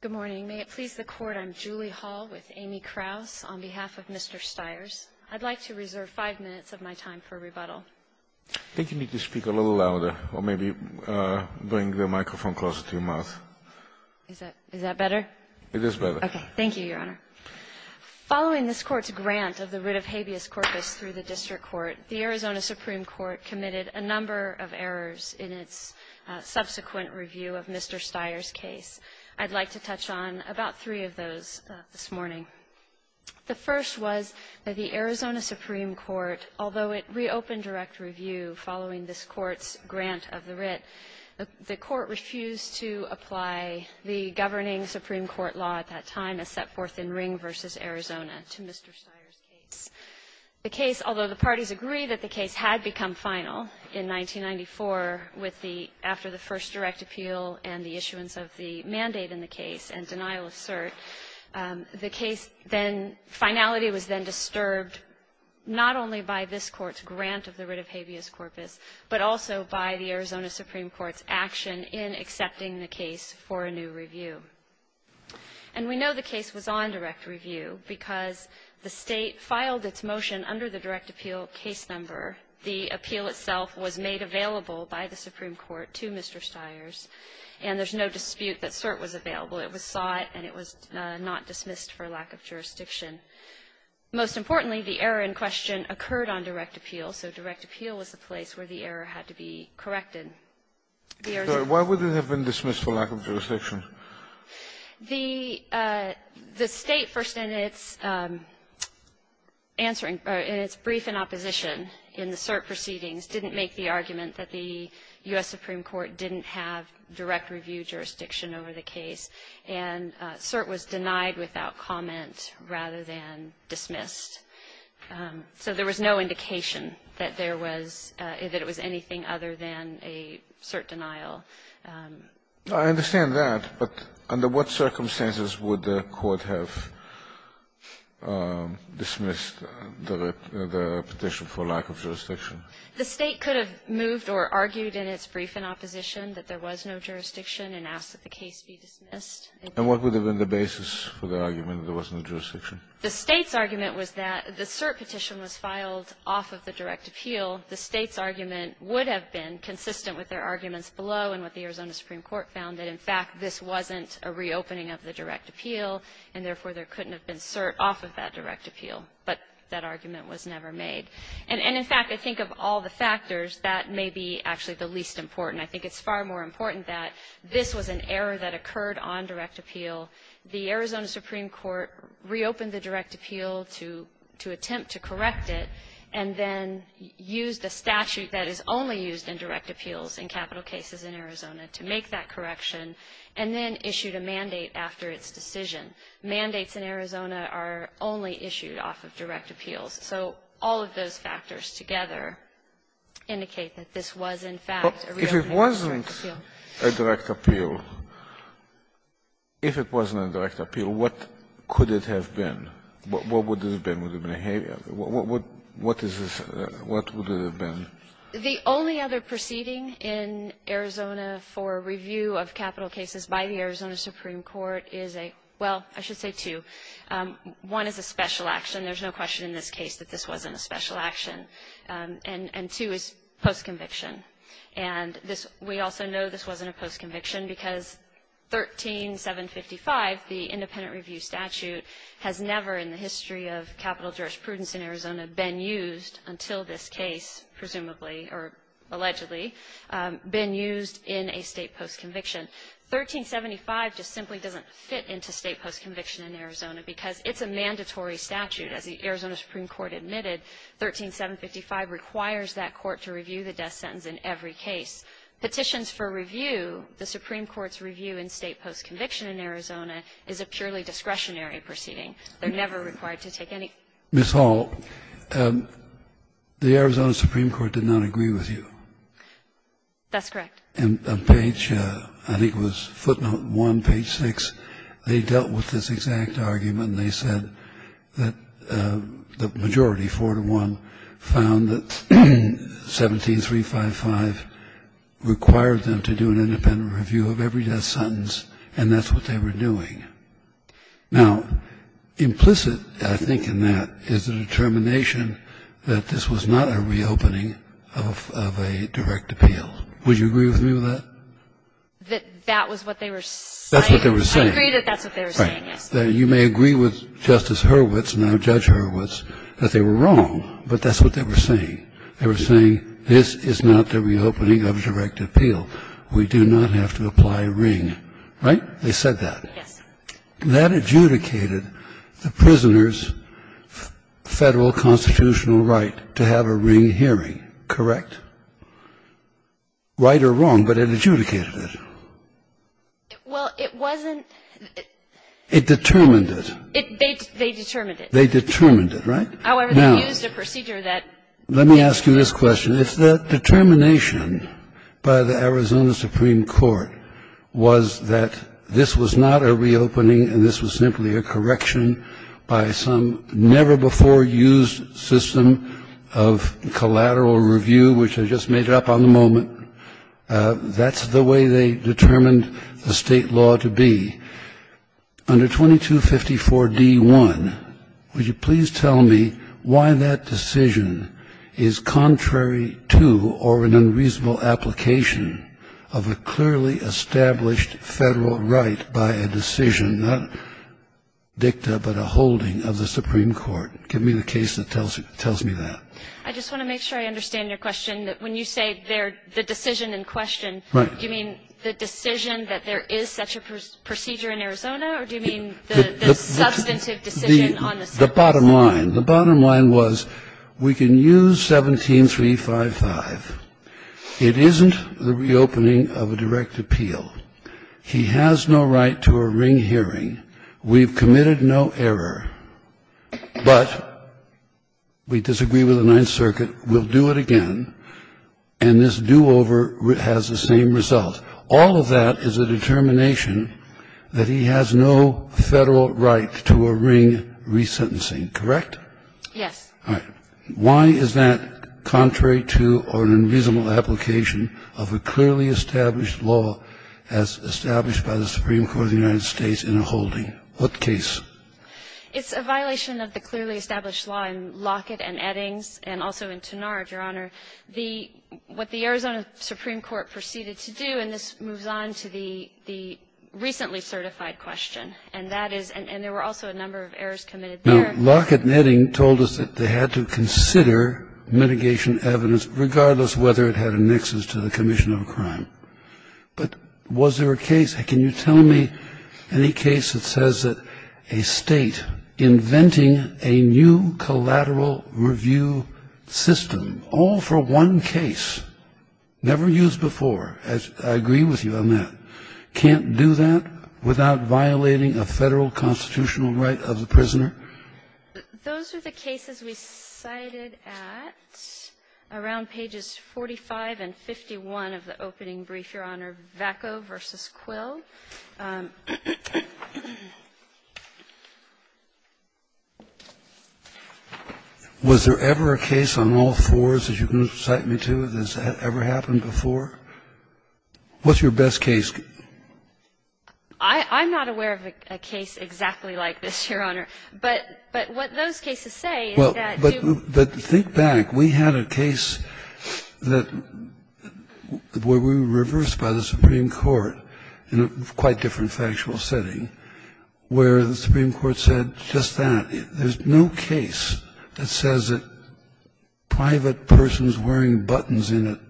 Good morning. May it please the Court, I'm Julie Hall with Amy Krauss on behalf of Mr. Styers. I'd like to reserve five minutes of my time for rebuttal. I think you need to speak a little louder or maybe bring the microphone closer to your mouth. Is that better? It is better. Okay. Thank you, Your Honor. Following this Court's grant of the writ of habeas corpus through the District Court, the Arizona Supreme Court committed a number of errors in its subsequent review of Mr. Styers' case. I'd like to touch on about three of those this morning. The first was that the Arizona Supreme Court, although it reopened direct review following this Court's grant of the writ, the Court refused to apply the governing Supreme Court law at that time, a set forth in Ring v. Arizona, to Mr. Styers' case. The case, although the parties agreed that the case had become final in 1994 with the, after the first direct appeal and the issuance of the mandate in the case and denial of cert, the case then, finality was then disturbed not only by this Court's grant of the writ of habeas corpus, but also by the Arizona Supreme Court's action in accepting the case for a new review. And we know the case was on direct review because the State filed its motion under the direct appeal case number. The appeal itself was made available by the Supreme Court to Mr. Styers. And there's no dispute that cert was available. It was sought and it was not dismissed for lack of jurisdiction. Most importantly, the error in question occurred on direct appeal, so direct appeal was the place where the error had to be corrected. Scalia. Why would it have been dismissed for lack of jurisdiction? The State, first in its answering, in its brief in opposition in the cert proceedings, didn't make the argument that the U.S. Supreme Court didn't have direct review jurisdiction over the case, and cert was denied without comment rather than dismissed. So there was no indication that there was, that it was anything other than a cert denial. I understand that, but under what circumstances would the Court have dismissed the petition for lack of jurisdiction? The State could have moved or argued in its brief in opposition that there was no jurisdiction and asked that the case be dismissed. And what would have been the basis for the argument that there was no jurisdiction? The State's argument was that the cert petition was filed off of the direct appeal. The State's argument would have been consistent with their arguments below and what the Arizona Supreme Court found, that, in fact, this wasn't a reopening of the direct appeal, and, therefore, there couldn't have been cert off of that direct appeal. But that argument was never made. And in fact, I think of all the factors, that may be actually the least important. I think it's far more important that this was an error that occurred on direct appeal. The Arizona Supreme Court reopened the direct appeal to attempt to correct it, and then used a statute that is only used in direct appeals in capital cases in Arizona to make that correction, and then issued a mandate after its decision. Mandates in Arizona are only issued off of direct appeals. So all of those factors together indicate that this was, in fact, a reopening of the direct appeal. If it wasn't a direct appeal, if it wasn't a direct appeal, what could it have been? What would it have been? Would it have been a habeas? What is this? What would it have been? The only other proceeding in Arizona for review of capital cases by the Arizona Supreme Court is a – well, I should say two. One is a special action. There's no question in this case that this wasn't a special action. And two is post-conviction. And this – we also know this wasn't a post-conviction because 13755, the independent review statute, has never in the history of capital jurisprudence in Arizona been used until this case, presumably or allegedly, been used in a state post-conviction. 1375 just simply doesn't fit into state post-conviction in Arizona because it's a mandatory statute. As the Arizona Supreme Court admitted, 13755 requires that court to review the death sentence in every case. Petitions for review, the Supreme Court's review in state post-conviction in Arizona is a purely discretionary proceeding. They're never required to take any – Kennedy. Ms. Hall, the Arizona Supreme Court did not agree with you. That's correct. On page, I think it was footnote 1, page 6, they dealt with this exact argument. And they said that the majority, 4 to 1, found that 17355 required them to do an independent review of every death sentence, and that's what they were doing. Now, implicit, I think, in that is the determination that this was not a reopening of a direct appeal. Would you agree with me with that? That that was what they were saying. That's what they were saying. I agree that that's what they were saying, yes. You may agree with Justice Hurwitz, now Judge Hurwitz, that they were wrong, but that's what they were saying. They were saying this is not the reopening of a direct appeal. We do not have to apply ring. Right? They said that. Yes. That adjudicated the prisoner's Federal constitutional right to have a ring hearing, correct? Right or wrong, but it adjudicated it. Well, it wasn't. It determined it. They determined it. They determined it, right? However, they used a procedure that. Let me ask you this question. If the determination by the Arizona Supreme Court was that this was not a reopening and this was simply a correction by some never-before-used system of collateral review, which I just made up on the moment. That's the way they determined the state law to be. Under 2254 D1, would you please tell me why that decision is contrary to or an unreasonable application of a clearly established Federal right by a decision, not dicta, but a holding of the Supreme Court? Give me the case that tells me that. I just want to make sure I understand your question, that when you say the decision in question, do you mean the decision that there is such a procedure in Arizona, or do you mean the substantive decision on the surface? The bottom line. The bottom line was we can use 17355. It isn't the reopening of a direct appeal. He has no right to a ring hearing. We've committed no error. But we disagree with the Ninth Circuit. We'll do it again. And this do-over has the same result. All of that is a determination that he has no Federal right to a ring resentencing. Correct? Yes. All right. Why is that contrary to or an unreasonable application of a clearly established law as established by the Supreme Court of the United States in a holding? What case? It's a violation of the clearly established law in Lockett and Eddings and also in Tenard, Your Honor. The what the Arizona Supreme Court proceeded to do, and this moves on to the recently certified question, and that is, and there were also a number of errors committed there. Now, Lockett and Eddings told us that they had to consider mitigation evidence regardless whether it had annexes to the commission of a crime. But was there a case? Can you tell me any case that says that a State inventing a new collateral review system all for one case, never used before, as I agree with you on that, can't do that without violating a Federal constitutional right of the prisoner? Those are the cases we cited at around pages 45 and 51 of the opening brief, Your Honor, that I know. Was there ever a case on all fours that you can cite me to that has ever happened before? What's your best case? I'm not aware of a case exactly like this, Your Honor. But what those cases say is that you. But think back. We had a case where we were reversed by the Supreme Court in a quite different factual setting, where the Supreme Court said just that, there's no case that says that private persons wearing buttons in a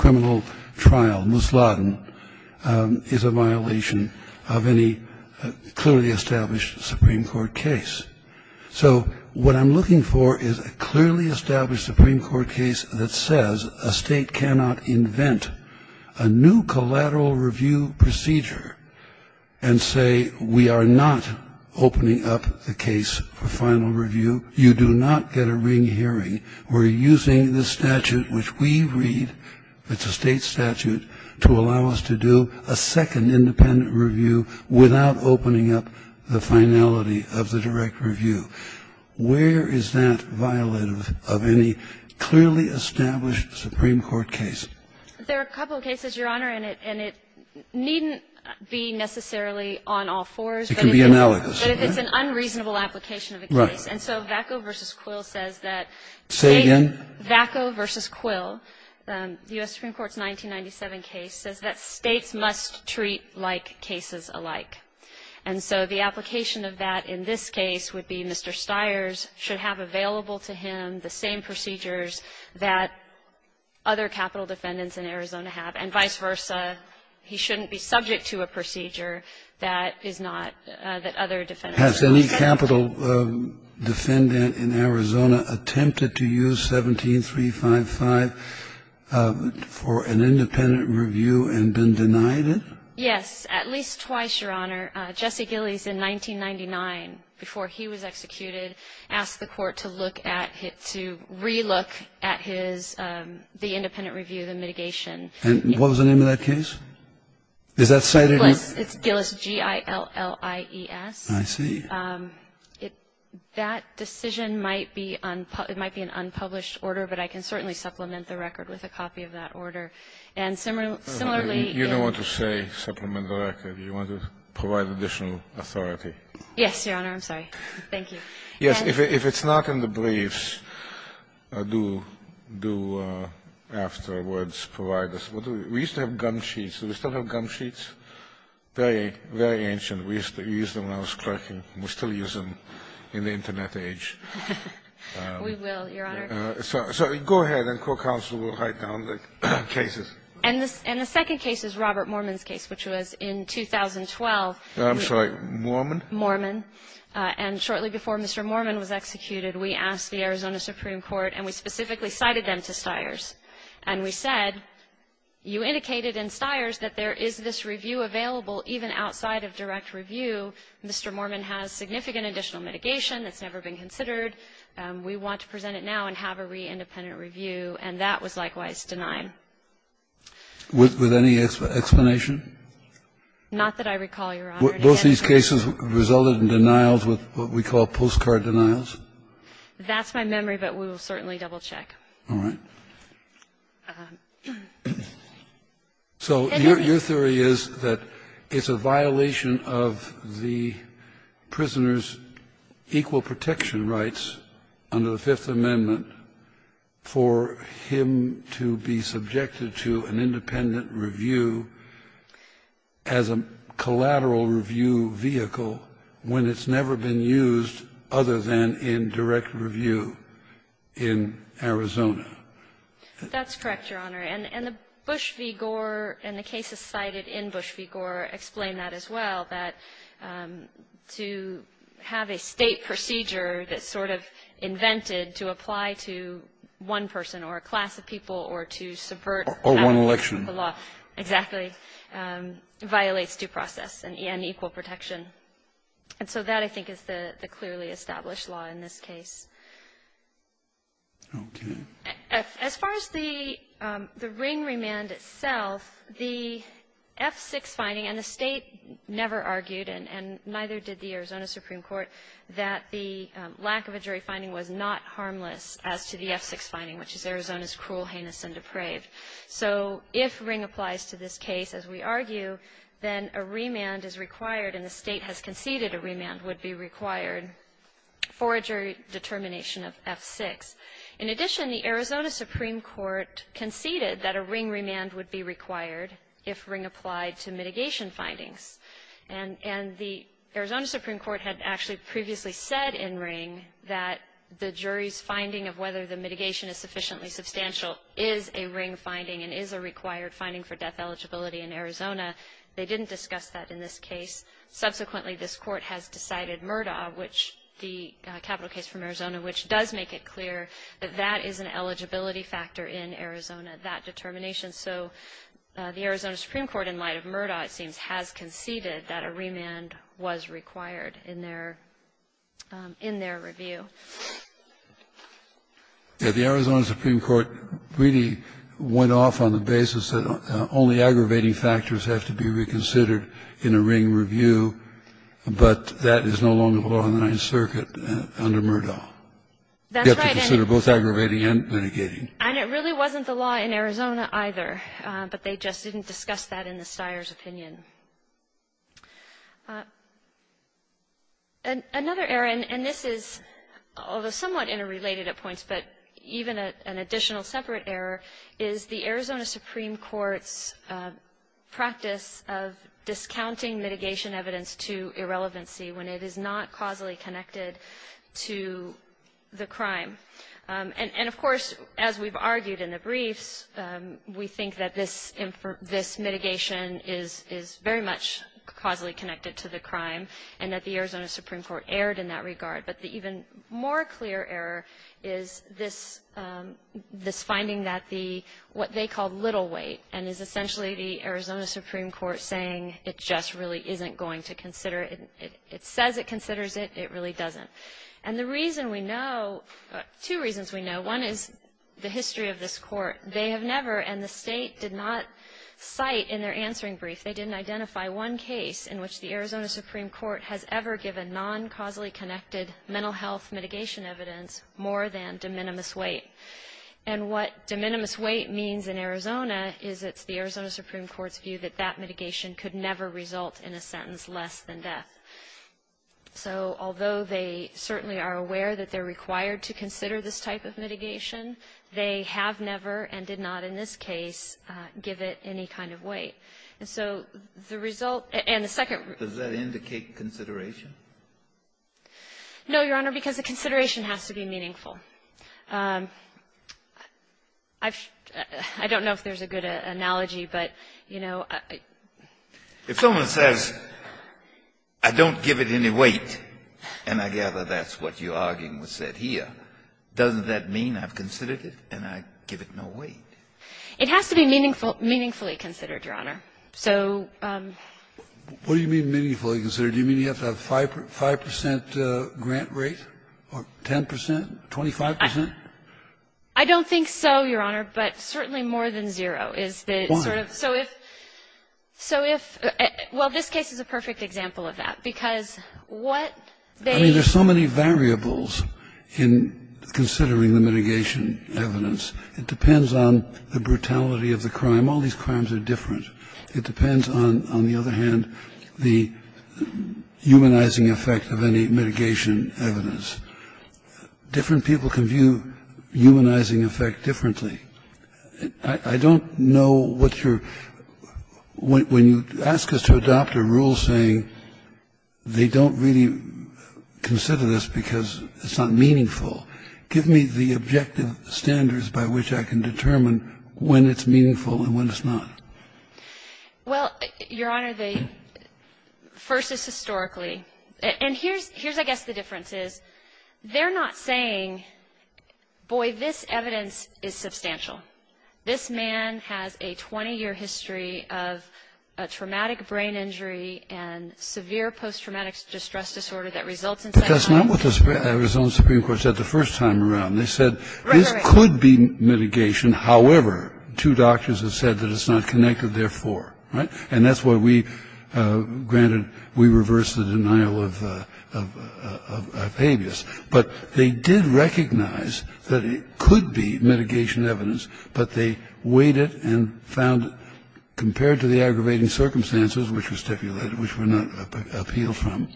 criminal trial, musladin, is a violation of any clearly established Supreme Court case. So what I'm looking for is a clearly established Supreme Court case that says a State cannot invent a new collateral review procedure and say we are not opening up the case for final review, you do not get a ring hearing, we're using the statute which we read, it's a State statute, to allow us to do a second independent review without opening up the finality of the direct review. Where is that violative of any clearly established Supreme Court case? There are a couple of cases, Your Honor, and it needn't be necessarily on all fours. It can be analogous. But if it's an unreasonable application of a case. And so Vacco v. Quill says that. Say again. Vacco v. Quill, U.S. Supreme Court's 1997 case, says that States must treat like cases alike. And so the application of that in this case would be Mr. Stiers should have available to him the same procedures that other capital defendants in Arizona have, and vice versa. He shouldn't be subject to a procedure that is not that other defendants have. Has any capital defendant in Arizona attempted to use 17355 for an independent review and been denied it? Yes, at least twice, Your Honor. Jesse Gillies, in 1999, before he was executed, asked the Court to look at his to relook at his, the independent review, the mitigation. And what was the name of that case? Is that cited in the? It's Gillies, G-I-L-L-I-E-S. I see. That decision might be, it might be an unpublished order, but I can certainly supplement the record with a copy of that order. And similarly. You don't want to say supplement the record. You want to provide additional authority. Yes, Your Honor. I'm sorry. Thank you. Yes. If it's not in the briefs, do afterwards provide us. We used to have gum sheets. Do we still have gum sheets? Very, very ancient. We used to use them when I was clerking. We still use them in the Internet age. We will, Your Honor. So go ahead and court counsel will write down the cases. And the second case is Robert Mormon's case, which was in 2012. I'm sorry. Mormon? Mormon. And shortly before Mr. Mormon was executed, we asked the Arizona Supreme Court and we specifically cited them to Stiers. And we said, you indicated in Stiers that there is this review available even outside of direct review. Mr. Mormon has significant additional mitigation that's never been considered. We want to present it now and have a re-independent review. And that was likewise denied. With any explanation? Not that I recall, Your Honor. Both these cases resulted in denials with what we call postcard denials? That's my memory, but we will certainly double-check. All right. So your theory is that it's a violation of the prisoner's equal protection rights under the Fifth Amendment for him to be subjected to an independent review as a collateral review vehicle when it's never been used other than in direct review in Arizona? That's correct, Your Honor. And the Bush v. Gore and the cases cited in Bush v. Gore explain that as well, that to have a State procedure that's sort of invented to apply to one person or a class of people or to subvert the law. Or one election. Exactly. It violates due process and equal protection. And so that, I think, is the clearly established law in this case. Okay. As far as the ring remand itself, the F6 finding, and the State never argued and neither did the Arizona Supreme Court, that the lack of a jury finding was not harmless as to the F6 finding, which is Arizona's cruel, heinous, and depraved. So if ring applies to this case, as we argue, then a remand is required and the State has conceded a remand would be required for a jury determination of F6. In addition, the Arizona Supreme Court conceded that a ring remand would be required if ring applied to mitigation findings. And the Arizona Supreme Court had actually previously said in ring that the jury's finding of whether the mitigation is sufficiently substantial is a ring finding and is a required finding for death eligibility in Arizona. They didn't discuss that in this case. Subsequently, this court has decided Murdaugh, the capital case from Arizona, which does make it clear that that is an eligibility factor in Arizona, that determination. So the Arizona Supreme Court, in light of Murdaugh, it seems, has conceded that a remand was required in their review. Kennedy. The Arizona Supreme Court really went off on the basis that only aggravating factors have to be reconsidered in a ring review, but that is no longer the law in the Ninth Circuit under Murdaugh. That's right. You have to consider both aggravating and mitigating. And it really wasn't the law in Arizona, either. But they just didn't discuss that in the Steyer's opinion. Another error, and this is somewhat interrelated at points, but even an additional separate error, is the Arizona Supreme Court's practice of discounting mitigation evidence to irrelevancy when it is not causally connected to the crime. And, of course, as we've argued in the briefs, we think that this mitigation is very much causally connected to the crime and that the Arizona Supreme Court erred in that regard. But the even more clear error is this finding that the what they call little weight and is essentially the Arizona Supreme Court saying it just really isn't going to consider it. It says it considers it. It really doesn't. And the reason we know, two reasons we know, one is the history of this Court. They have never, and the State did not cite in their answering brief, they didn't identify one case in which the Arizona Supreme Court has ever given non-causally connected mental health mitigation evidence more than de minimis weight. And what de minimis weight means in Arizona is it's the Arizona Supreme Court's view that that mitigation could never result in a sentence less than death. So although they certainly are aware that they're required to consider this type of mitigation, they have never and did not in this case give it any kind of weight. And so the result and the second rule of law. Kennedy, does that indicate consideration? No, Your Honor, because the consideration has to be meaningful. I don't know if there's a good analogy, but, you know, I don't know. If it says I don't give it any weight, and I gather that's what you're arguing was said here, doesn't that mean I've considered it and I give it no weight? It has to be meaningful, meaningfully considered, Your Honor. So. What do you mean meaningfully considered? Do you mean you have to have a 5 percent grant rate or 10 percent, 25 percent? I don't think so, Your Honor, but certainly more than zero. Why? So if, well, this case is a perfect example of that, because what they. I mean, there's so many variables in considering the mitigation evidence. It depends on the brutality of the crime. All these crimes are different. It depends on, on the other hand, the humanizing effect of any mitigation evidence. Different people can view humanizing effect differently. I don't know what your. When you ask us to adopt a rule saying they don't really consider this because it's not meaningful, give me the objective standards by which I can determine when it's meaningful and when it's not. Well, Your Honor, the first is historically. And here's, I guess, the difference is they're not saying, boy, this evidence is substantial. This man has a 20-year history of a traumatic brain injury and severe post-traumatic distress disorder that results in. But that's not what the Supreme Court said the first time around. They said this could be mitigation. However, two doctors have said that it's not connected, therefore, right? And that's why we granted, we reversed the denial of habeas. But they did recognize that it could be mitigation evidence, but they weighted and found, compared to the aggravating circumstances, which were stipulated, which were not appealed from,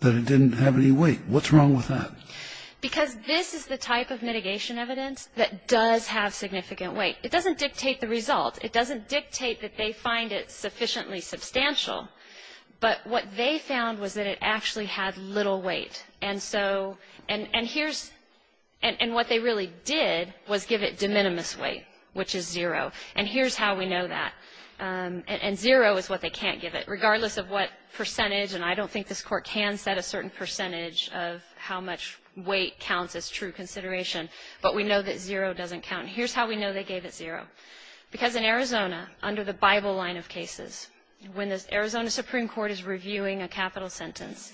that it didn't have any weight. What's wrong with that? Because this is the type of mitigation evidence that does have significant weight. It doesn't dictate the result. It doesn't dictate that they find it sufficiently substantial. But what they found was that it actually had little weight. And so, and here's, and what they really did was give it de minimis weight, which is zero. And here's how we know that. And zero is what they can't give it. Regardless of what percentage, and I don't think this Court can set a certain percentage of how much weight counts as true consideration, but we know that zero doesn't count. Here's how we know they gave it zero. Because in Arizona, under the Bible line of cases, when the Arizona Supreme Court is reviewing a capital sentence,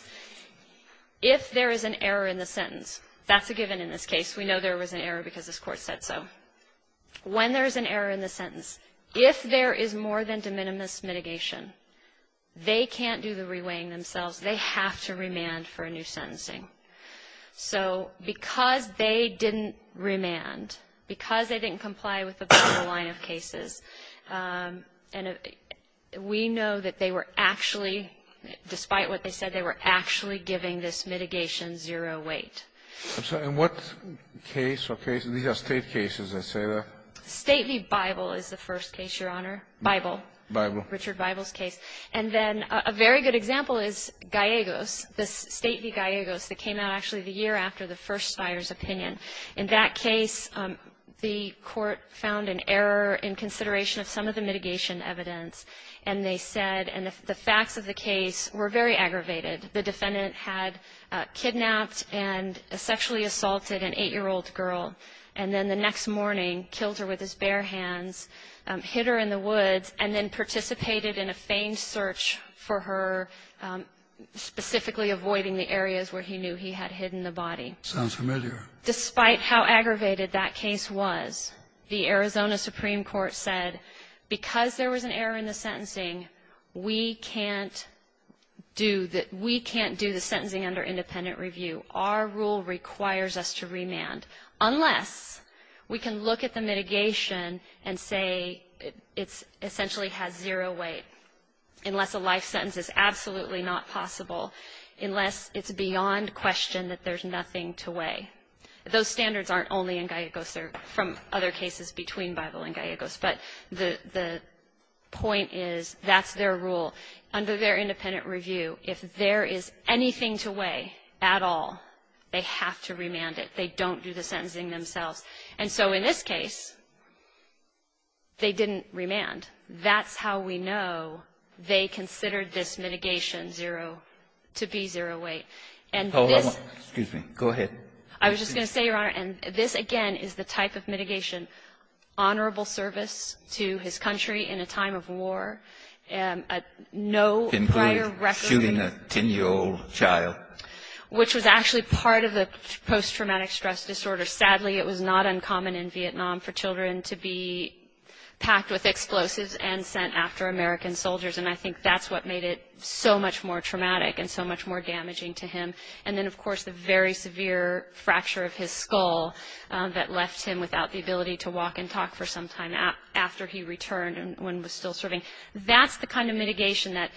if there is an error in the sentence, that's a given in this case. We know there was an error because this Court said so. When there's an error in the sentence, if there is more than de minimis mitigation, they can't do the reweighing themselves. They have to remand for a new sentencing. So because they didn't remand, because they didn't comply with the Bible line of cases, and we know that they were actually, despite what they said, they were actually giving this mitigation zero weight. I'm sorry. In what case or case? These are State cases, I say that. State v. Bible is the first case, Your Honor. Bible. Bible. Richard Bible's case. And then a very good example is Gallegos. This State v. Gallegos that came out actually the year after the first buyer's opinion. In that case, the Court found an error in consideration of some of the mitigation evidence, and they said the facts of the case were very aggravated. The defendant had kidnapped and sexually assaulted an 8-year-old girl, and then the next morning killed her with his bare hands, hit her in the woods, and then participated in a feigned search for her, specifically avoiding the areas where he knew he had hidden the body. Sounds familiar. Despite how aggravated that case was, the Arizona Supreme Court said, because there was an error in the sentencing, we can't do the sentencing under independent review. Our rule requires us to remand unless we can look at the mitigation and say it essentially has zero weight, unless a life sentence is absolutely not possible, unless it's beyond question that there's nothing to weigh. Those standards aren't only in Gallegos. They're from other cases between Bible and Gallegos, but the point is that's their rule. Under their independent review, if there is anything to weigh at all, they have to remand it. They don't do the sentencing themselves. And so in this case, they didn't remand. That's how we know they considered this mitigation zero, to be zero weight. And this ---- Hold on. Excuse me. Go ahead. I was just going to say, Your Honor, and this, again, is the type of mitigation, honorable service to his country in a time of war, no prior record ---- Can you believe shooting a 10-year-old child? Which was actually part of the post-traumatic stress disorder. Sadly, it was not uncommon in Vietnam for children to be packed with explosives and sent after American soldiers. And I think that's what made it so much more traumatic and so much more damaging to him. And then, of course, the very severe fracture of his skull that left him without the ability to walk and talk for some time after he returned when he was still serving. That's the kind of mitigation that,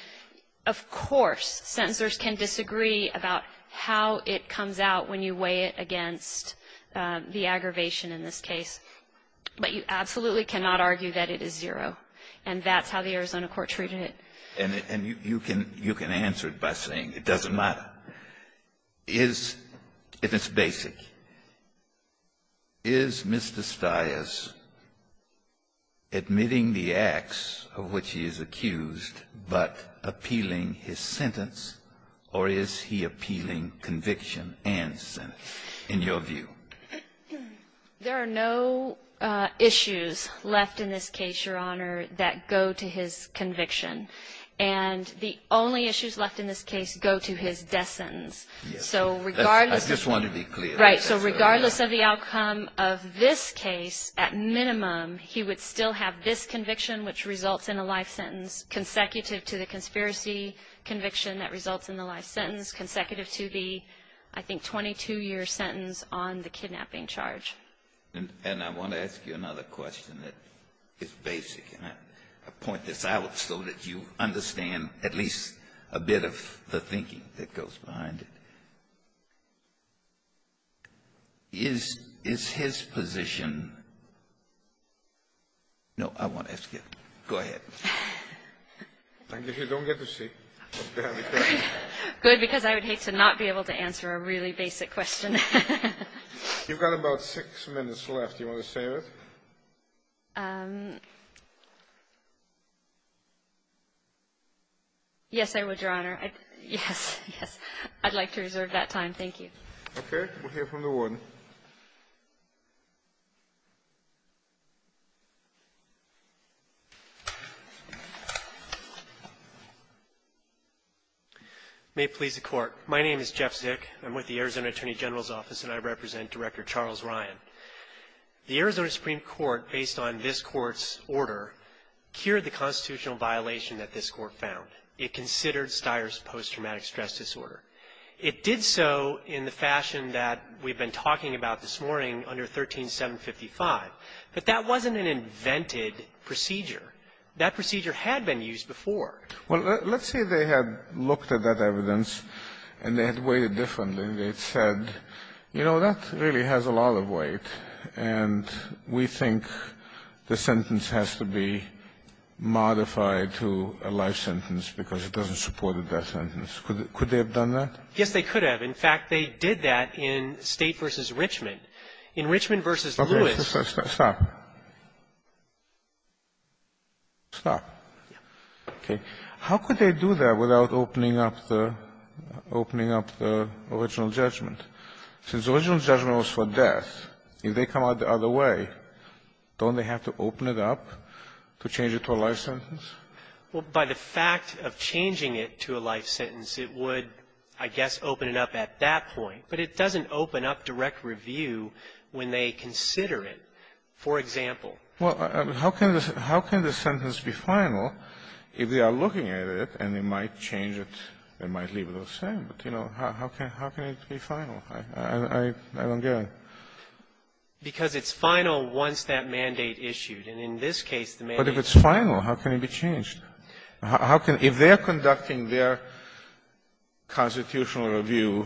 of course, sentencers can disagree about how it comes out when you weigh it against the aggravation in this case. But you absolutely cannot argue that it is zero. And that's how the Arizona court treated it. And you can answer it by saying it doesn't matter. If it's basic, is Mr. Stias admitting the acts of which he is accused but appealing his sentence, or is he appealing conviction and sentence, in your view? There are no issues left in this case, Your Honor, that go to his conviction. And the only issues left in this case go to his death sentence. I just want to be clear. Right. So regardless of the outcome of this case, at minimum, he would still have this conviction which results in a life sentence, consecutive to the conspiracy conviction that results in the life sentence, consecutive to the, I think, 22-year sentence on the kidnapping charge. And I want to ask you another question that is basic, and I point this out so that you understand at least a bit of the thinking that goes behind it. Is his position – no, I won't ask you. Go ahead. Thank you. Good, because I would hate to not be able to answer a really basic question. You've got about six minutes left. Do you want to save it? Yes, I would, Your Honor. Yes, yes. I'd like to reserve that time. Thank you. Okay. We'll hear from the warden. May it please the Court. My name is Jeff Zick. I'm with the Arizona Attorney General's Office, and I represent Director Charles Ryan. The Arizona Supreme Court, based on this Court's order, cured the constitutional violation that this Court found. It considered Styer's post-traumatic stress disorder. It did so in the fashion that we've been talking about this morning under 13755, but that wasn't an invented procedure. That procedure had been used before. Well, let's say they had looked at that evidence and they had weighed it differently and they had said, you know, that really has a lot of weight, and we think the sentence has to be modified to a life sentence because it doesn't support a death sentence. Could they have done that? Yes, they could have. In fact, they did that in State v. Richmond. In Richmond v. Lewis. Stop. Stop. Yes. Okay. How could they do that without opening up the original judgment? Since the original judgment was for death, if they come out the other way, don't they have to open it up to change it to a life sentence? Well, by the fact of changing it to a life sentence, it would, I guess, open it up at that point. But it doesn't open up direct review when they consider it. For example. Well, how can the sentence be final if they are looking at it and they might change it, they might leave it the same. But, you know, how can it be final? I don't get it. Because it's final once that mandate issued. And in this case, the mandate. But if it's final, how can it be changed? How can they, if they are conducting their constitutional review,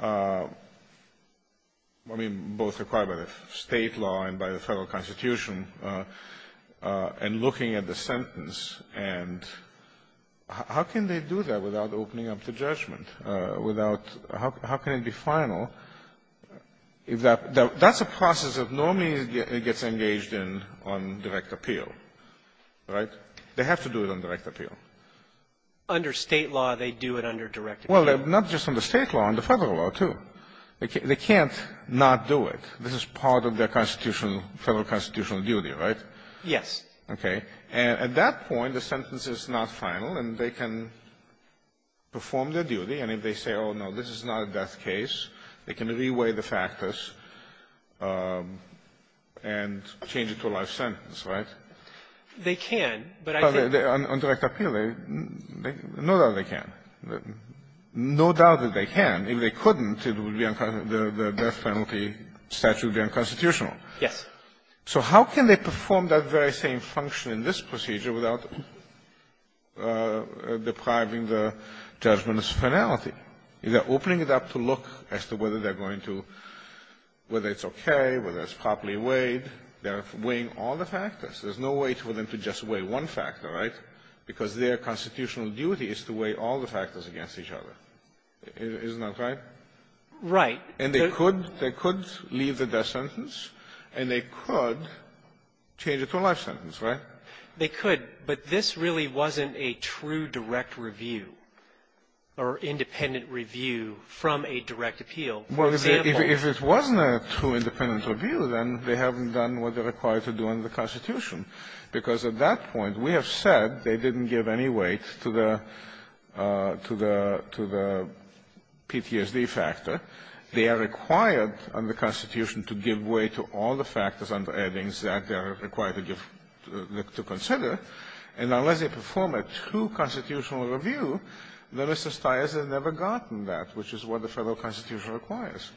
I mean, both required by the State law and by the Federal Constitution, and looking at the sentence, and how can they do that without opening up the judgment? Without how can it be final? That's a process that normally gets engaged in on direct appeal, right? They have to do it on direct appeal. Under State law, they do it under direct appeal. Well, not just under State law, under Federal law, too. They can't not do it. This is part of their constitutional, Federal constitutional duty, right? Yes. Okay. And at that point, the sentence is not final, and they can perform their duty. And if they say, oh, no, this is not a death case, they can reweigh the factors and change it to a life sentence, right? They can, but I think they can't. On direct appeal, they know that they can. No doubt that they can. If they couldn't, it would be unconstitutional. The death penalty statute would be unconstitutional. Yes. So how can they perform that very same function in this procedure without depriving the judgment as finality? They're opening it up to look as to whether they're going to – whether it's okay, whether it's properly weighed. They're weighing all the factors. There's no way for them to just weigh one factor, right? Because their constitutional duty is to weigh all the factors against each other. Isn't that right? Right. And they could – they could leave the death sentence, and they could change it to a life sentence, right? They could. But this really wasn't a true direct review or independent review from a direct appeal. For example – Well, if it wasn't a true independent review, then they haven't done what they're required to do under the Constitution, because at that point, we have said they didn't give any weight to the – to the – to the PTSD factor. They are required under the Constitution to give weight to all the factors under the Constitution to consider. And unless they perform a true constitutional review, then Mr. Stiles has never gotten that, which is what the Federal Constitution requires.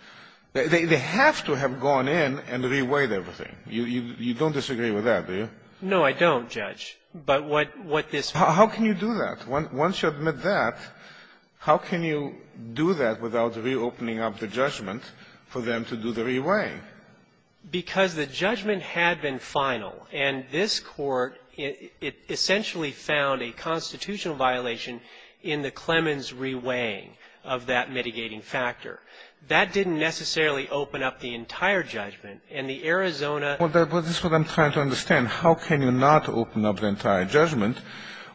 They have to have gone in and re-weighed everything. You don't disagree with that, do you? No, I don't, Judge. But what this – How can you do that? Once you admit that, how can you do that without reopening up the judgment for them to do the re-weighing? Because the judgment had been final, and this Court essentially found a constitutional violation in the Clemens re-weighing of that mitigating factor. That didn't necessarily open up the entire judgment. And the Arizona – Well, that's what I'm trying to understand. How can you not open up the entire judgment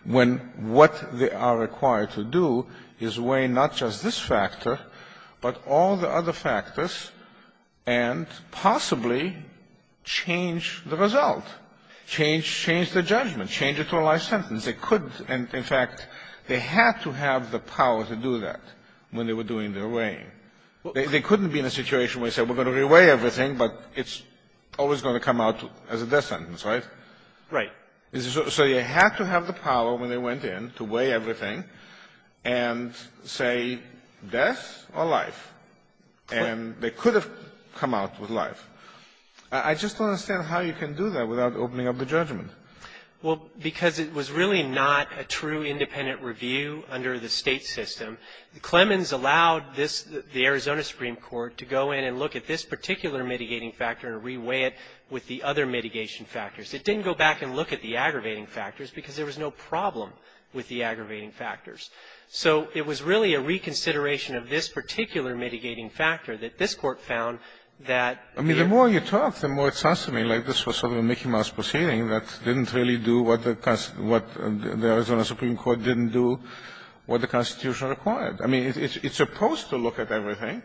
when what they are required to do is weigh not just this factor, but all the other factors, and possibly change the result, change the judgment, change it to a life sentence? They couldn't – in fact, they had to have the power to do that when they were doing the re-weighing. They couldn't be in a situation where they said, we're going to re-weigh everything, but it's always going to come out as a death sentence, right? Right. So you had to have the power when they went in to weigh everything and say death or life. And they could have come out with life. I just don't understand how you can do that without opening up the judgment. Well, because it was really not a true independent review under the State system. Clemens allowed this – the Arizona Supreme Court to go in and look at this particular mitigating factor and re-weigh it with the other mitigation factors. It didn't go back and look at the aggravating factors, because there was no problem with the aggravating factors. So it was really a reconsideration of this particular mitigating factor that this Court found that the – I mean, the more you talk, the more it sounds to me like this was sort of a Mickey Mouse proceeding that didn't really do what the – what the Arizona Supreme Court didn't do what the Constitution required. I mean, it's supposed to look at everything.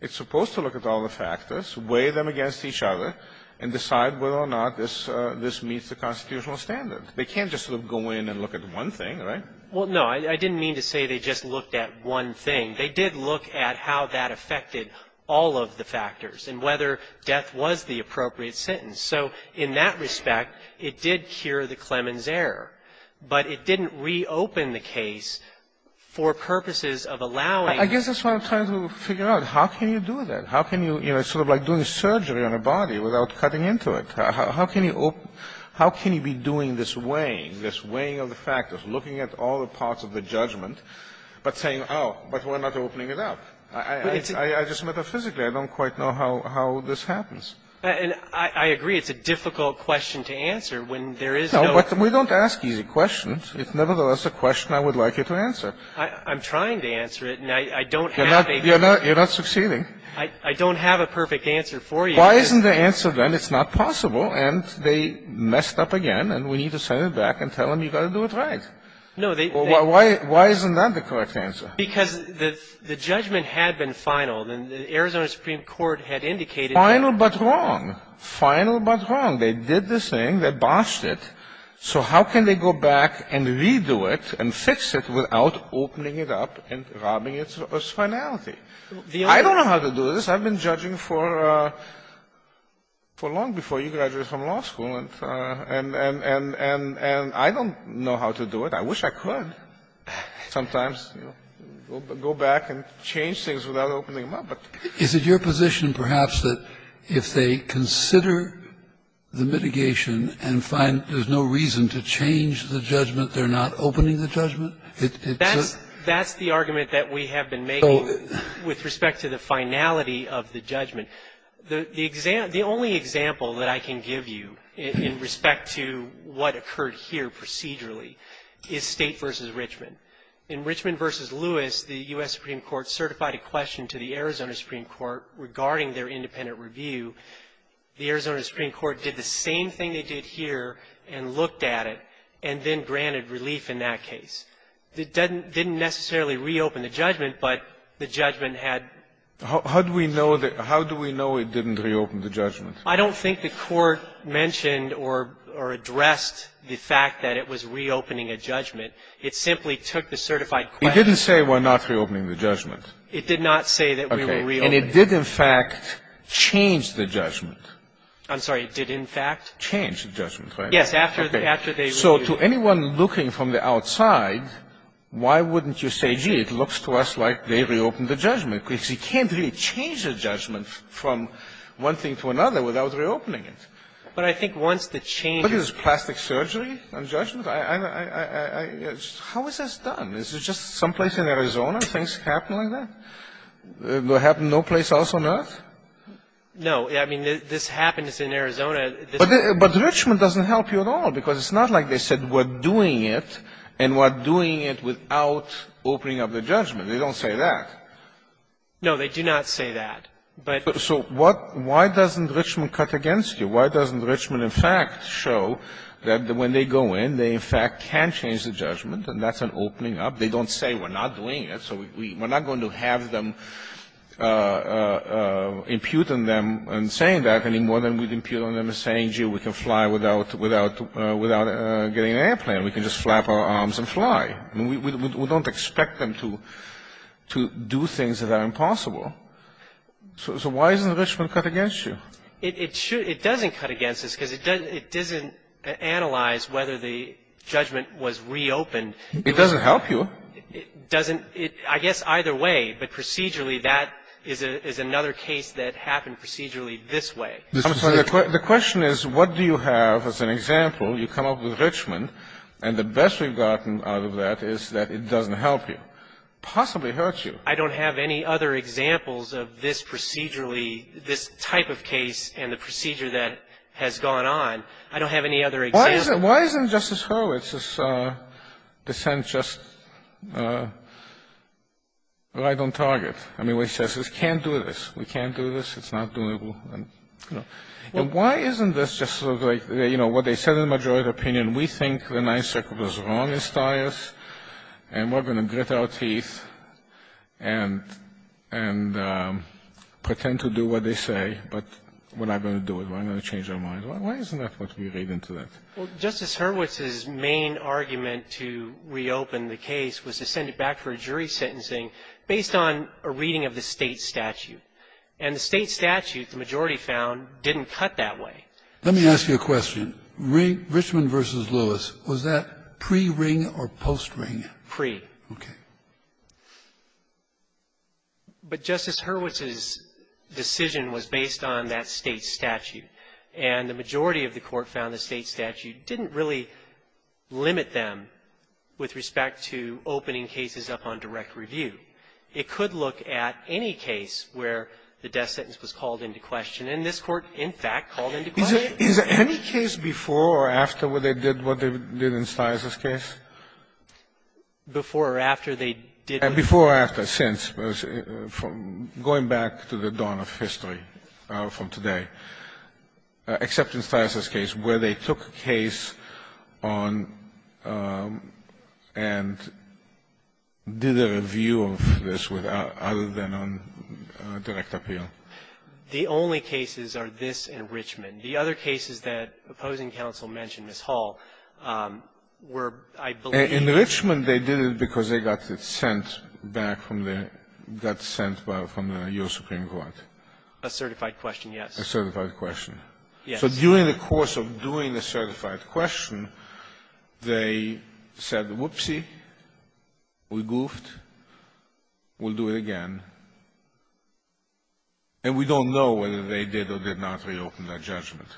It's supposed to look at all the factors, weigh them against each other, and decide whether or not this meets the constitutional standard. They can't just sort of go in and look at one thing, right? Well, no. I didn't mean to say they just looked at one thing. They did look at how that affected all of the factors and whether death was the appropriate sentence. So in that respect, it did cure the Clemens error, but it didn't reopen the case for purposes of allowing – I guess that's what I'm trying to figure out. How can you do that? How can you, you know, sort of like doing surgery on a body without cutting into it? How can you – how can you be doing this weighing, this weighing of the factors, looking at all the parts of the judgment, but saying, oh, but we're not opening it up? I just – metaphysically, I don't quite know how this happens. And I agree it's a difficult question to answer when there is no – No, but we don't ask easy questions. It's nevertheless a question I would like you to answer. I'm trying to answer it, and I don't have a – You're not succeeding. I don't have a perfect answer for you. Why isn't the answer then it's not possible, and they messed up again, and we need to send it back and tell them you've got to do it right? No, they – Why isn't that the correct answer? Because the judgment had been final, and the Arizona Supreme Court had indicated – Final but wrong. Final but wrong. They did this thing. They botched it. So how can they go back and redo it and fix it without opening it up and robbing its finality? I don't know how to do this. I've been judging for long before you graduated from law school, and I don't know how to do it. I wish I could sometimes go back and change things without opening them up. Is it your position perhaps that if they consider the mitigation and find there's no reason to change the judgment, they're not opening the judgment? That's the argument that we have been making. Well, with respect to the finality of the judgment, the only example that I can give you in respect to what occurred here procedurally is State v. Richmond. In Richmond v. Lewis, the U.S. Supreme Court certified a question to the Arizona Supreme Court regarding their independent review. The Arizona Supreme Court did the same thing they did here and looked at it and then granted relief in that case. It didn't necessarily reopen the judgment, but the judgment had to be reopened. How do we know it didn't reopen the judgment? I don't think the Court mentioned or addressed the fact that it was reopening a judgment. It simply took the certified question. It didn't say we're not reopening the judgment. It did not say that we were reopening it. Okay. And it did, in fact, change the judgment. I'm sorry. It did, in fact? Change the judgment, right? Yes, after they reviewed it. So to anyone looking from the outside, why wouldn't you say, gee, it looks to us like they reopened the judgment, because you can't really change a judgment from one thing to another without reopening it. But I think once the change is ---- What is this, plastic surgery on judgment? I don't know. How is this done? Is it just someplace in Arizona things happen like that? Will it happen no place else on earth? No. I mean, this happens in Arizona. But Richmond doesn't help you at all, because it's not like they said we're doing it and we're doing it without opening up the judgment. They don't say that. No, they do not say that. But ---- So what why doesn't Richmond cut against you? Why doesn't Richmond, in fact, show that when they go in, they, in fact, can change the judgment, and that's an opening up? They don't say we're not doing it, so we're not going to have them impute on them and saying that any more than we'd impute on them saying, gee, we can fly without getting an airplane. We can just flap our arms and fly. I mean, we don't expect them to do things that are impossible. So why doesn't Richmond cut against you? It doesn't cut against us, because it doesn't analyze whether the judgment was reopened. It doesn't help you. It doesn't. I guess either way. But procedurally, that is another case that happened procedurally this way. The question is, what do you have as an example? You come up with Richmond, and the best we've gotten out of that is that it doesn't help you, possibly hurt you. I don't have any other examples of this procedurally, this type of case and the procedure that has gone on. I don't have any other examples. Why isn't Justice Hurwitz's dissent just right on target? I mean, what he says is, can't do this. We can't do this. It's not doable. And why isn't this just sort of like, you know, what they said in the majority opinion, we think the Ninth Circuit was wrong in Steyer's, and we're going to grit our teeth and pretend to do what they say, but we're not going to do it. We're not going to change our minds. Why isn't that what we read into that? Well, Justice Hurwitz's main argument to reopen the case was to send it back for jury sentencing based on a reading of the State statute. And the State statute, the majority found, didn't cut that way. Let me ask you a question. Richmond v. Lewis, was that pre-ring or post-ring? Pre. Okay. But Justice Hurwitz's decision was based on that State statute. And the majority of the Court found the State statute didn't really limit them with respect to opening cases up on direct review. It could look at any case where the death sentence was called into question. And this Court, in fact, called into question it. Is there any case before or after where they did what they did in Steyer's case? Before or after they did what they did. And before or after, since, going back to the dawn of history from today, except in Steyer's case where they took a case on and did a review of this other than on direct appeal. The only cases are this and Richmond. The other cases that opposing counsel mentioned, Ms. Hall, were, I believe -------- Yes. So during the course of doing a certified question, they said, whoopsie, we goofed, we'll do it again. And we don't know whether they did or did not reopen that judgment.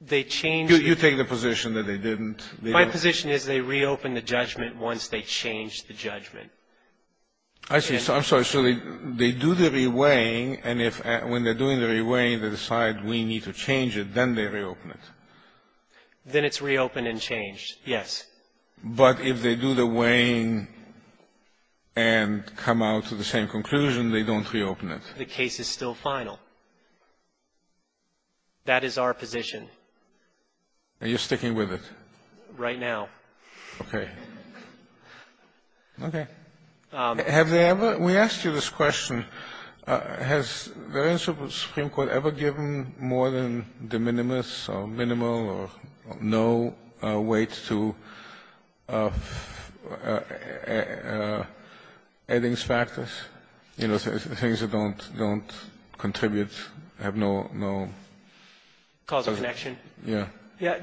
They changed the ---- You take the position that they didn't. My position is they reopened the judgment once they changed the judgment. I see. I'm sorry. So they do the reweighing, and when they're doing the reweighing, they decide we need to change it, then they reopen it. Then it's reopened and changed, yes. But if they do the weighing and come out to the same conclusion, they don't reopen it. The case is still final. That is our position. Are you sticking with it? Right now. Okay. Okay. Have they ever ---- we asked you this question. Has the Supreme Court ever given more than de minimis or minimal or no weight to adding factors, you know, things that don't contribute, have no ---- Causal connection. Yes.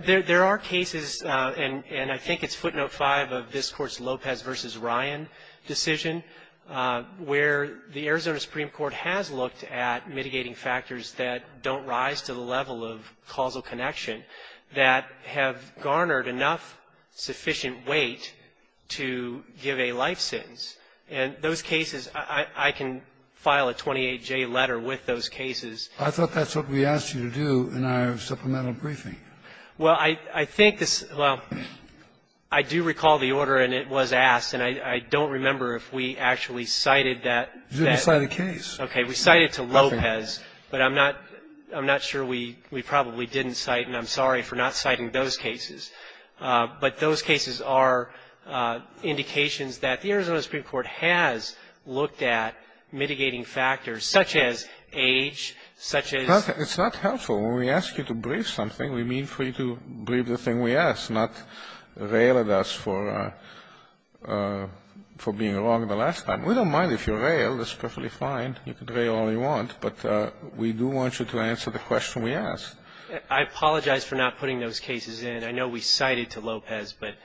There are cases, and I think it's footnote 5 of this Court's Lopez v. Ryan decision, where the Arizona Supreme Court has looked at mitigating factors that don't rise to the level of causal connection that have garnered enough sufficient weight to give a life sentence, and those cases, I can file a 28-J letter with those cases. I thought that's what we asked you to do in our supplemental briefing. Well, I think this ---- well, I do recall the order, and it was asked, and I don't remember if we actually cited that. You didn't cite a case. Okay. We cited to Lopez, but I'm not sure we probably didn't cite, and I'm sorry for not citing those cases. But those cases are indications that the Arizona Supreme Court has looked at mitigating factors such as age, such as ---- It's not helpful. When we ask you to brief something, we mean for you to brief the thing we asked, not rail at us for being wrong the last time. We don't mind if you rail. That's perfectly fine. You can rail all you want, but we do want you to answer the question we asked. I apologize for not putting those cases in. I know we cited to Lopez, but,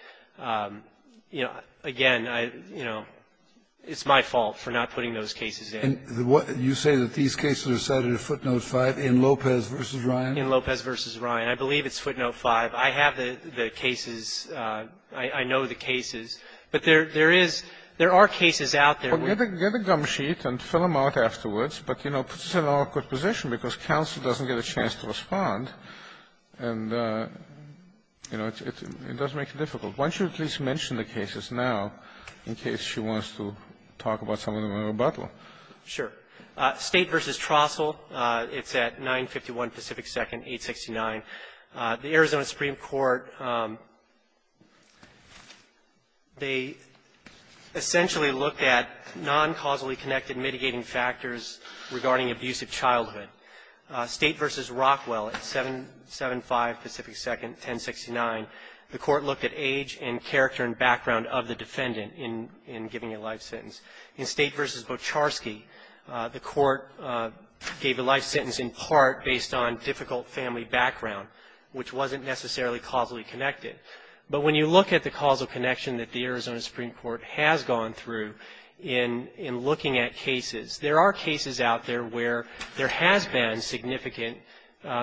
you know, again, I, you know, it's my fault for not putting those cases in. And you say that these cases are cited at footnote 5 in Lopez v. Ryan? In Lopez v. Ryan. I believe it's footnote 5. I have the cases. I know the cases. But there is ---- there are cases out there. Well, get a gum sheet and fill them out afterwards, but, you know, this is an awkward position because counsel doesn't get a chance to respond, and, you know, it does make it difficult. Why don't you at least mention the cases now in case she wants to talk about some of them in her rebuttal? Sure. State v. Trostle, it's at 951 Pacific 2nd, 869. The Arizona Supreme Court, they essentially looked at non-causally connected mitigating factors regarding abusive childhood. State v. Rockwell at 775 Pacific 2nd, 1069. The Court looked at age and character and background of the defendant in giving a life sentence. In State v. Bocharski, the Court gave a life sentence in part based on difficult family background, which wasn't necessarily causally connected. But when you look at the causal connection that the Arizona Supreme Court has gone through in looking at cases, there are cases out there where there has been significant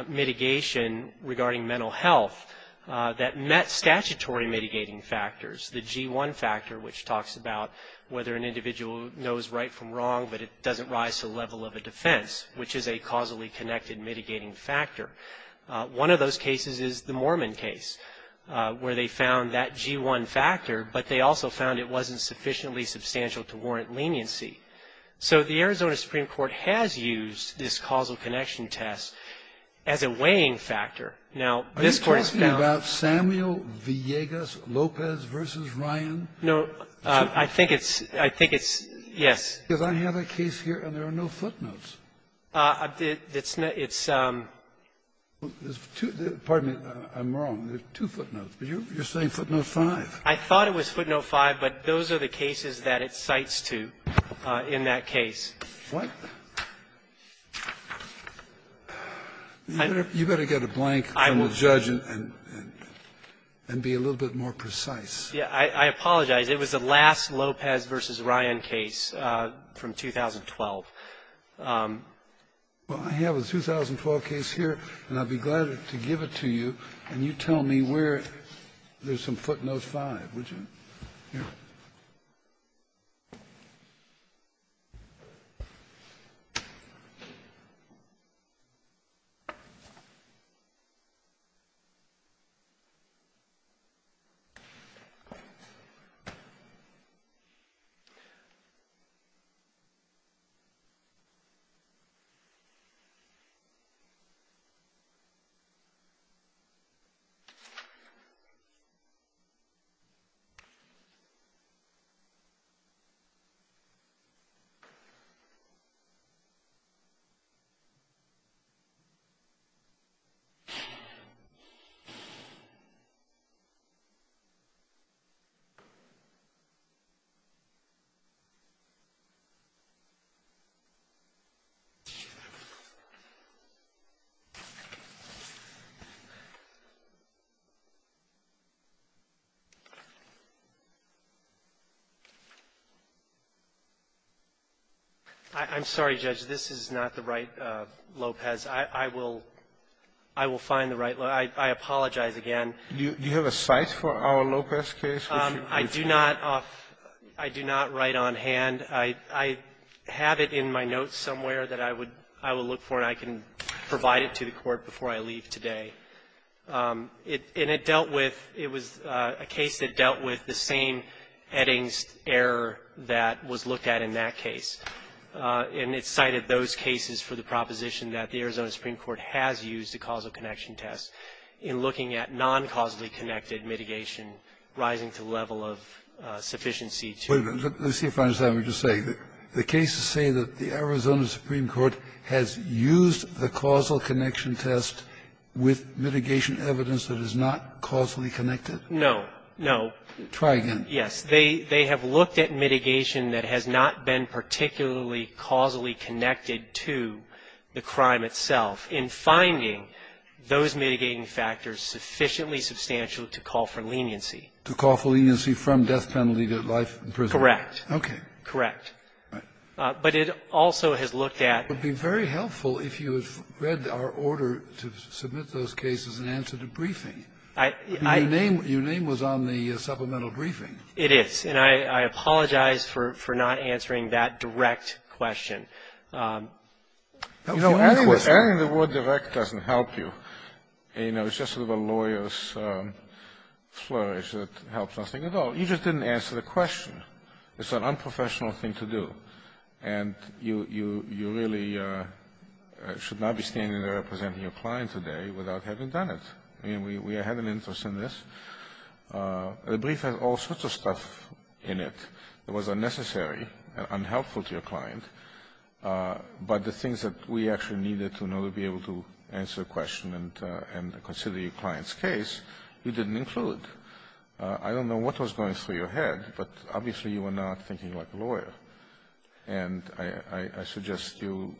mitigation regarding mental health that met statutory mitigating factors. The G-1 factor, which talks about whether an individual knows right from wrong, but it doesn't rise to the level of a defense, which is a causally connected mitigating factor. One of those cases is the Mormon case, where they found that G-1 factor, but they also found it wasn't sufficiently substantial to warrant leniency. So the Arizona Supreme Court has used this causal connection test as a weighing factor. Are you talking about Samuel Villegas Lopez v. Ryan? No, I think it's, I think it's, yes. Because I have a case here and there are no footnotes. It's not, it's. Pardon me, I'm wrong. There are two footnotes. You're saying footnote 5. I thought it was footnote 5, but those are the cases that it cites to in that case. What? You better get a blank from the judge and be a little bit more precise. Yeah. I apologize. It was the last Lopez v. Ryan case from 2012. Well, I have a 2012 case here, and I'll be glad to give it to you. And you tell me where there's some footnote 5, would you? Yeah. Okay. I'm sorry, Judge. This is not the right Lopez. I will find the right. I apologize again. Do you have a cite for our Lopez case? I do not write on hand. I have it in my notes somewhere that I would look for, and I can provide it to the Court before I leave today. And it dealt with the same Eddings error that was looked at in that case, and it cited those cases for the proposition that the Arizona Supreme Court has used the causal connection test in looking at non-causally connected mitigation rising to the level of sufficiency to the law. Let's see if I understand what you're saying. The cases say that the Arizona Supreme Court has used the causal connection test with mitigation evidence that is not causally connected? No, no. Try again. Yes. They have looked at mitigation that has not been particularly causally connected to the crime itself in finding those mitigating factors sufficiently substantial to call for leniency. To call for leniency from death penalty to life in prison. Correct. Okay. Correct. But it also has looked at the law. I'm sorry, but you were to submit those cases in answer to briefing. Your name was on the supplemental briefing. It is. And I apologize for not answering that direct question. You know, adding the word direct doesn't help you. You know, it's just sort of a lawyer's flourish that helps nothing at all. You just didn't answer the question. It's an unprofessional thing to do. And you really should not be standing there representing your client today without having done it. I mean, we had an interest in this. The brief has all sorts of stuff in it that was unnecessary and unhelpful to your client. But the things that we actually needed to know to be able to answer the question and consider your client's case, you didn't include. I don't know what was going through your head, but obviously you were not thinking like a lawyer. And I suggest you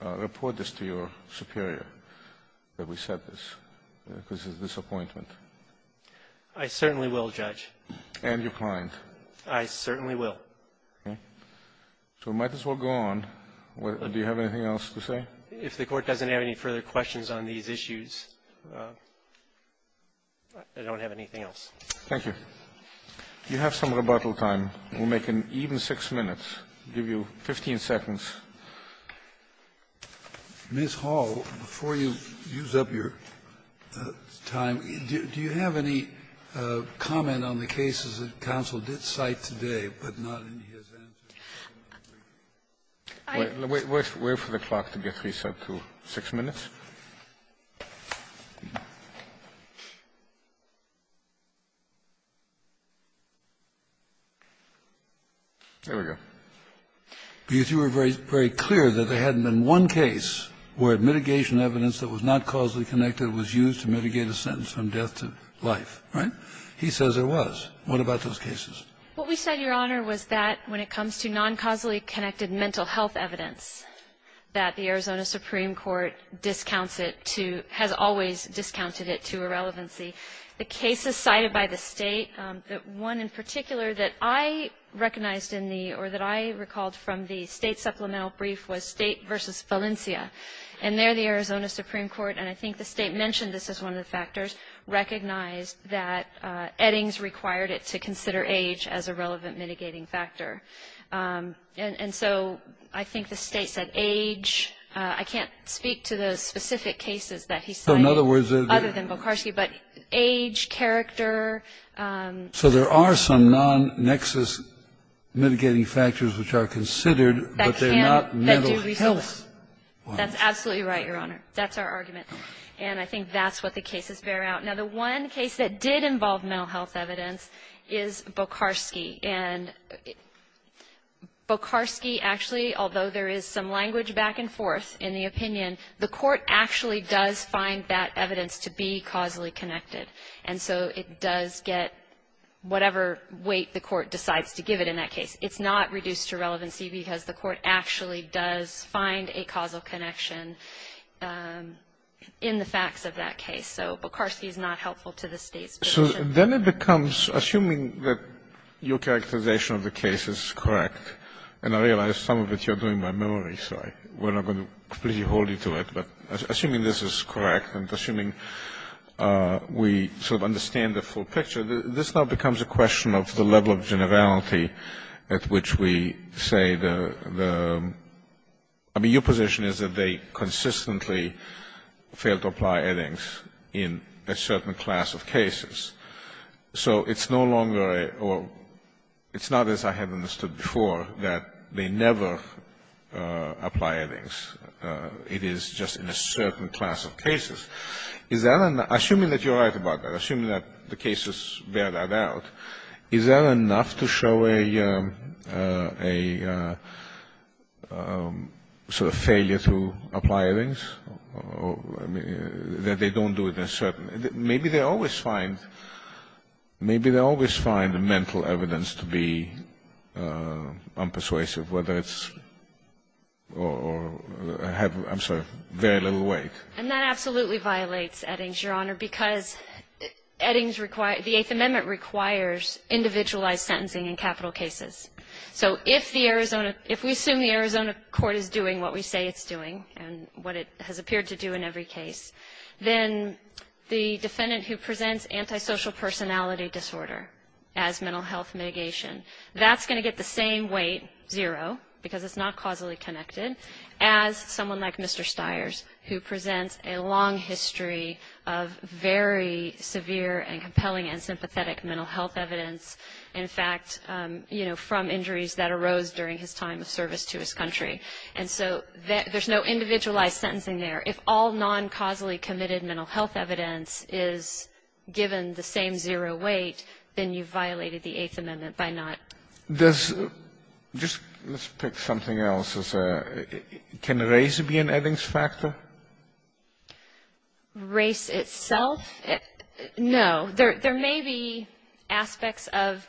report this to your superior that we said this, because it's a disappointment. I certainly will, Judge. And your client. I certainly will. Okay. So we might as well go on. Do you have anything else to say? If the Court doesn't have any further questions on these issues, I don't have anything else. Thank you. You have some rebuttal time. We'll make an even six minutes. I'll give you 15 seconds. Mr. Hall, before you use up your time, do you have any comment on the cases that counsel did cite today, but not in his answer? Wait for the clock to get reset to six minutes. There we go. You two were very clear that there hadn't been one case where mitigation evidence that was not causally connected was used to mitigate a sentence from death to life. Right? He says there was. What about those cases? What we said, Your Honor, was that when it comes to non-causally connected mental health evidence, that the Arizona Supreme Court discounts it to, has always discounted it to irrelevancy. The cases cited by the state, that one in particular that I recognized in the, or that I recalled from the state supplemental brief was state versus Valencia. And there the Arizona Supreme Court, and I think the state mentioned this as one of the factors, recognized that Eddings required it to consider age as a relevant mitigating factor. And so I think the state said age. I can't speak to the specific cases that he cited. So in other words, other than Bokarski, but age, character. So there are some non-nexus mitigating factors which are considered, but they're not mental health ones. That's absolutely right, Your Honor. That's our argument. And I think that's what the cases bear out. Now, the one case that did involve mental health evidence is Bokarski. And Bokarski actually, although there is some language back and forth in the opinion, the court actually does find that evidence to be causally connected. And so it does get whatever weight the court decides to give it in that case. It's not reduced to relevancy because the court actually does find a causal connection in the facts of that case. So Bokarski is not helpful to the state's position. Then it becomes, assuming that your characterization of the case is correct, and I realize some of it you're doing by memory, so we're not going to completely hold you to it, but assuming this is correct and assuming we sort of understand the full picture, this now becomes a question of the level of generality at which we say the, I mean, your position is that they consistently failed to apply evidence in a certain class of cases. So it's no longer a, or it's not as I have understood before, that they never apply evidence. It is just in a certain class of cases. Is that, assuming that you're right about that, assuming that the cases bear that out, is that enough to show a sort of failure to apply evidence? Or, I mean, that they don't do it in a certain, maybe they always find, maybe they always find mental evidence to be unpersuasive, whether it's, or have, I'm sorry, very little weight. And that absolutely violates Eddings, Your Honor, because Eddings require, the Eighth Amendment requires individualized sentencing in capital cases. So if the Arizona, if we assume the Arizona court is doing what we say it's doing, and what it has appeared to do in every case, then the defendant who presents antisocial personality disorder as mental health mitigation, that's going to get the same weight, zero, because it's not causally connected, as someone like Mr. Stiers, who presents a long history of very severe and compelling and sympathetic mental health evidence. In fact, from injuries that arose during his time of service to his country. And so there's no individualized sentencing there. If all non-causally committed mental health evidence is given the same zero weight, then you've violated the Eighth Amendment by not. There's, just, let's pick something else as a, can race be an Eddings factor? Race itself? No, there may be aspects of,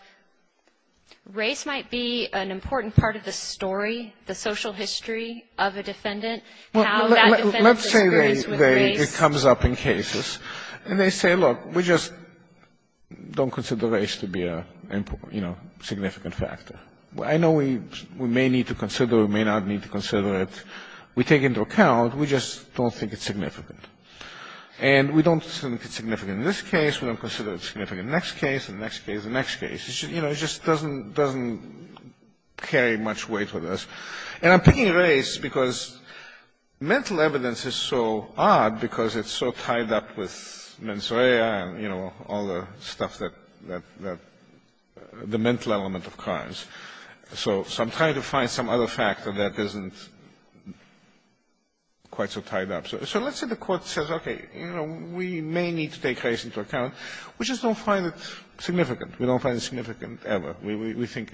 race might be an important part of the story, the social history of a defendant, how that defendant disagrees with race. Let's say it comes up in cases, and they say, look, we just don't consider race to be a significant factor. I know we may need to consider, we may not need to consider it. We take into account, we just don't think it's significant. And we don't think it's significant in this case, we don't consider it significant in the next case, and the next case, and the next case. You know, it just doesn't carry much weight with us. And I'm picking race because mental evidence is so odd because it's so tied up with mens rea and, you know, all the stuff that, the mental element of crimes. So I'm trying to find some other factor that isn't quite so tied up. So let's say the court says, okay, you know, we may need to take race into account. We just don't find it significant. We don't find it significant ever. We think,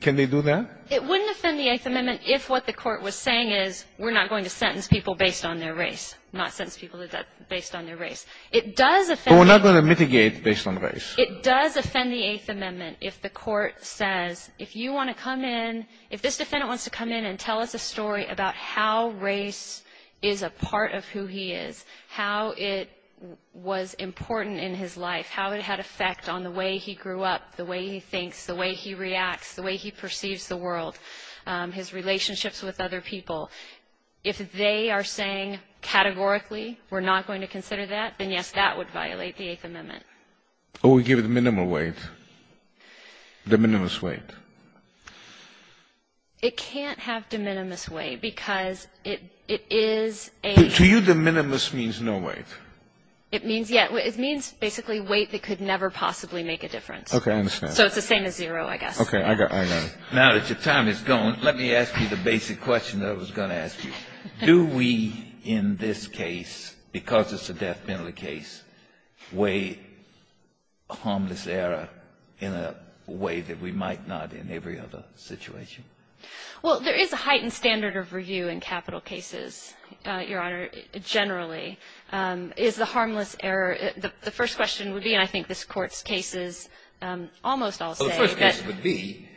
can they do that? It wouldn't offend the Eighth Amendment if what the court was saying is, we're not going to sentence people based on their race, not sentence people based on their race. It does offend- But we're not going to mitigate based on race. It does offend the Eighth Amendment if the court says, if you want to come in, if this defendant wants to come in and tell us a story about how race is a part of who he is, how it was important in his life, how it had effect on the way he grew up, the way he thinks, the way he reacts, the way he perceives the world, his relationships with other people. If they are saying categorically, we're not going to consider that, then yes, that would violate the Eighth Amendment. Or we give it minimal weight, de minimis weight. It can't have de minimis weight because it is a- To you, de minimis means no weight. It means, yeah, it means basically weight that could never possibly make a difference. Okay, I understand. So it's the same as zero, I guess. Okay, I got, I know. Now that your time is gone, let me ask you the basic question that I was going to ask you. Do we, in this case, because it's a death penalty case, weigh harmless error in a way that we might not in every other situation? Well, there is a heightened standard of review in capital cases, Your Honor, generally. Is the harmless error, the first question would be, and I think this Court's case is almost all set. Well, the first question would be,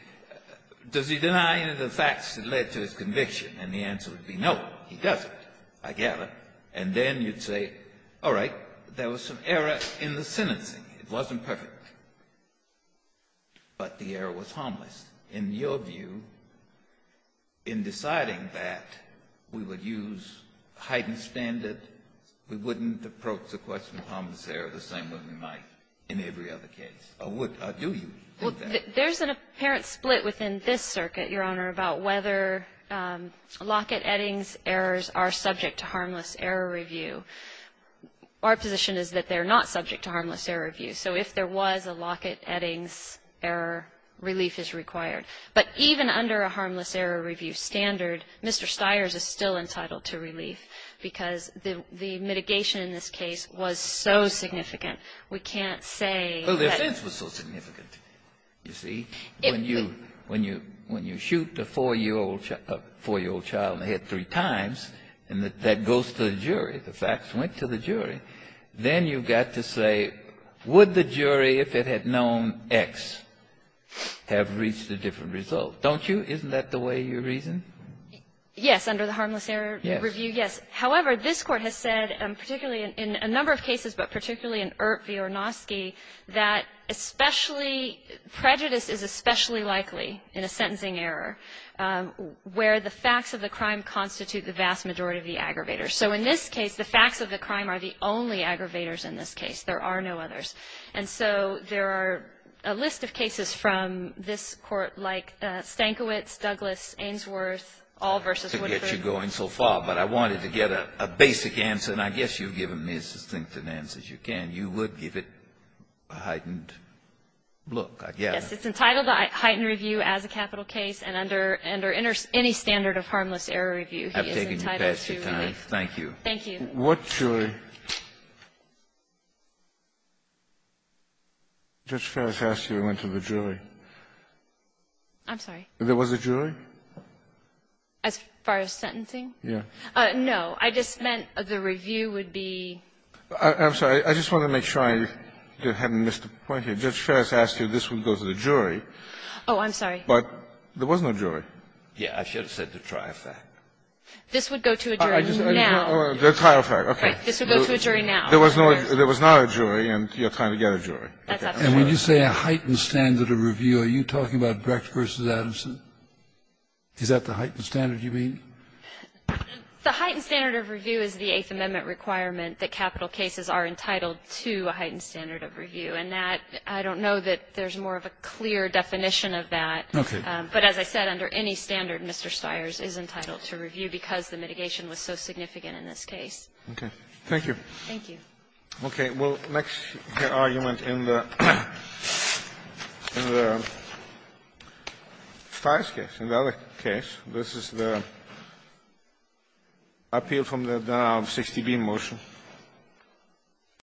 does he deny any of the facts that led to his conviction? And the answer would be no, he doesn't, I gather. And then you'd say, all right, there was some error in the sentencing. It wasn't perfect, but the error was harmless. In your view, in deciding that, we would use heightened standard? We wouldn't approach the question of harmless error the same way we might in every other case? Or would, or do you think that? There's an apparent split within this circuit, Your Honor, about whether Lockett-Eddings errors are subject to harmless error review. Our position is that they're not subject to harmless error review. So if there was a Lockett-Eddings error, relief is required. But even under a harmless error review standard, Mr. Stiers is still entitled to relief, because the mitigation in this case was so significant, we can't say that. Well, the offense was so significant, you see. When you shoot a 4-year-old child in the head three times, and that goes to the jury, the facts went to the jury, then you've got to say, would the jury, if it had known X, have reached a different result? Don't you? Isn't that the way you reason? Yes, under the harmless error review, yes. However, this Court has said, particularly in a number of cases, but particularly in Ert V. Ornosky, that especially, prejudice is especially likely in a sentencing error where the facts of the crime constitute the vast majority of the aggravator. So in this case, the facts of the crime are the only aggravators in this case. There are no others. And so there are a list of cases from this Court, like Stankiewicz, Douglas, Ainsworth, all versus Woodford. To get you going so far, but I wanted to get a basic answer, and I guess you've given me as succinct an answer as you can. You would give it a heightened look, I guess. Yes, it's entitled to heightened review as a capital case, and under any standard of harmless error review, he is entitled to relief. Thank you. Thank you. What jury? Judge Ferris asked you to go to the jury. I'm sorry. There was a jury? As far as sentencing? Yes. No. I just meant the review would be ---- I'm sorry. I just wanted to make sure I hadn't missed a point here. Judge Ferris asked you this would go to the jury. Oh, I'm sorry. But there was no jury. Yes. I should have said the tri-fact. This would go to a jury now. The tri-fact, okay. This would go to a jury now. There was no jury, and you're trying to get a jury. That's up to you. And when you say a heightened standard of review, are you talking about Brecht v. Adamson? Is that the heightened standard you mean? The heightened standard of review is the Eighth Amendment requirement that capital cases are entitled to a heightened standard of review, and that, I don't know that there's more of a clear definition of that. Okay. But as I said, under any standard, Mr. Stires is entitled to review because the mitigation was so significant in this case. Okay. Thank you. Thank you. Okay. Well, next argument in the Stires case, in the other case, this is the appeal from the denial of 60B motion.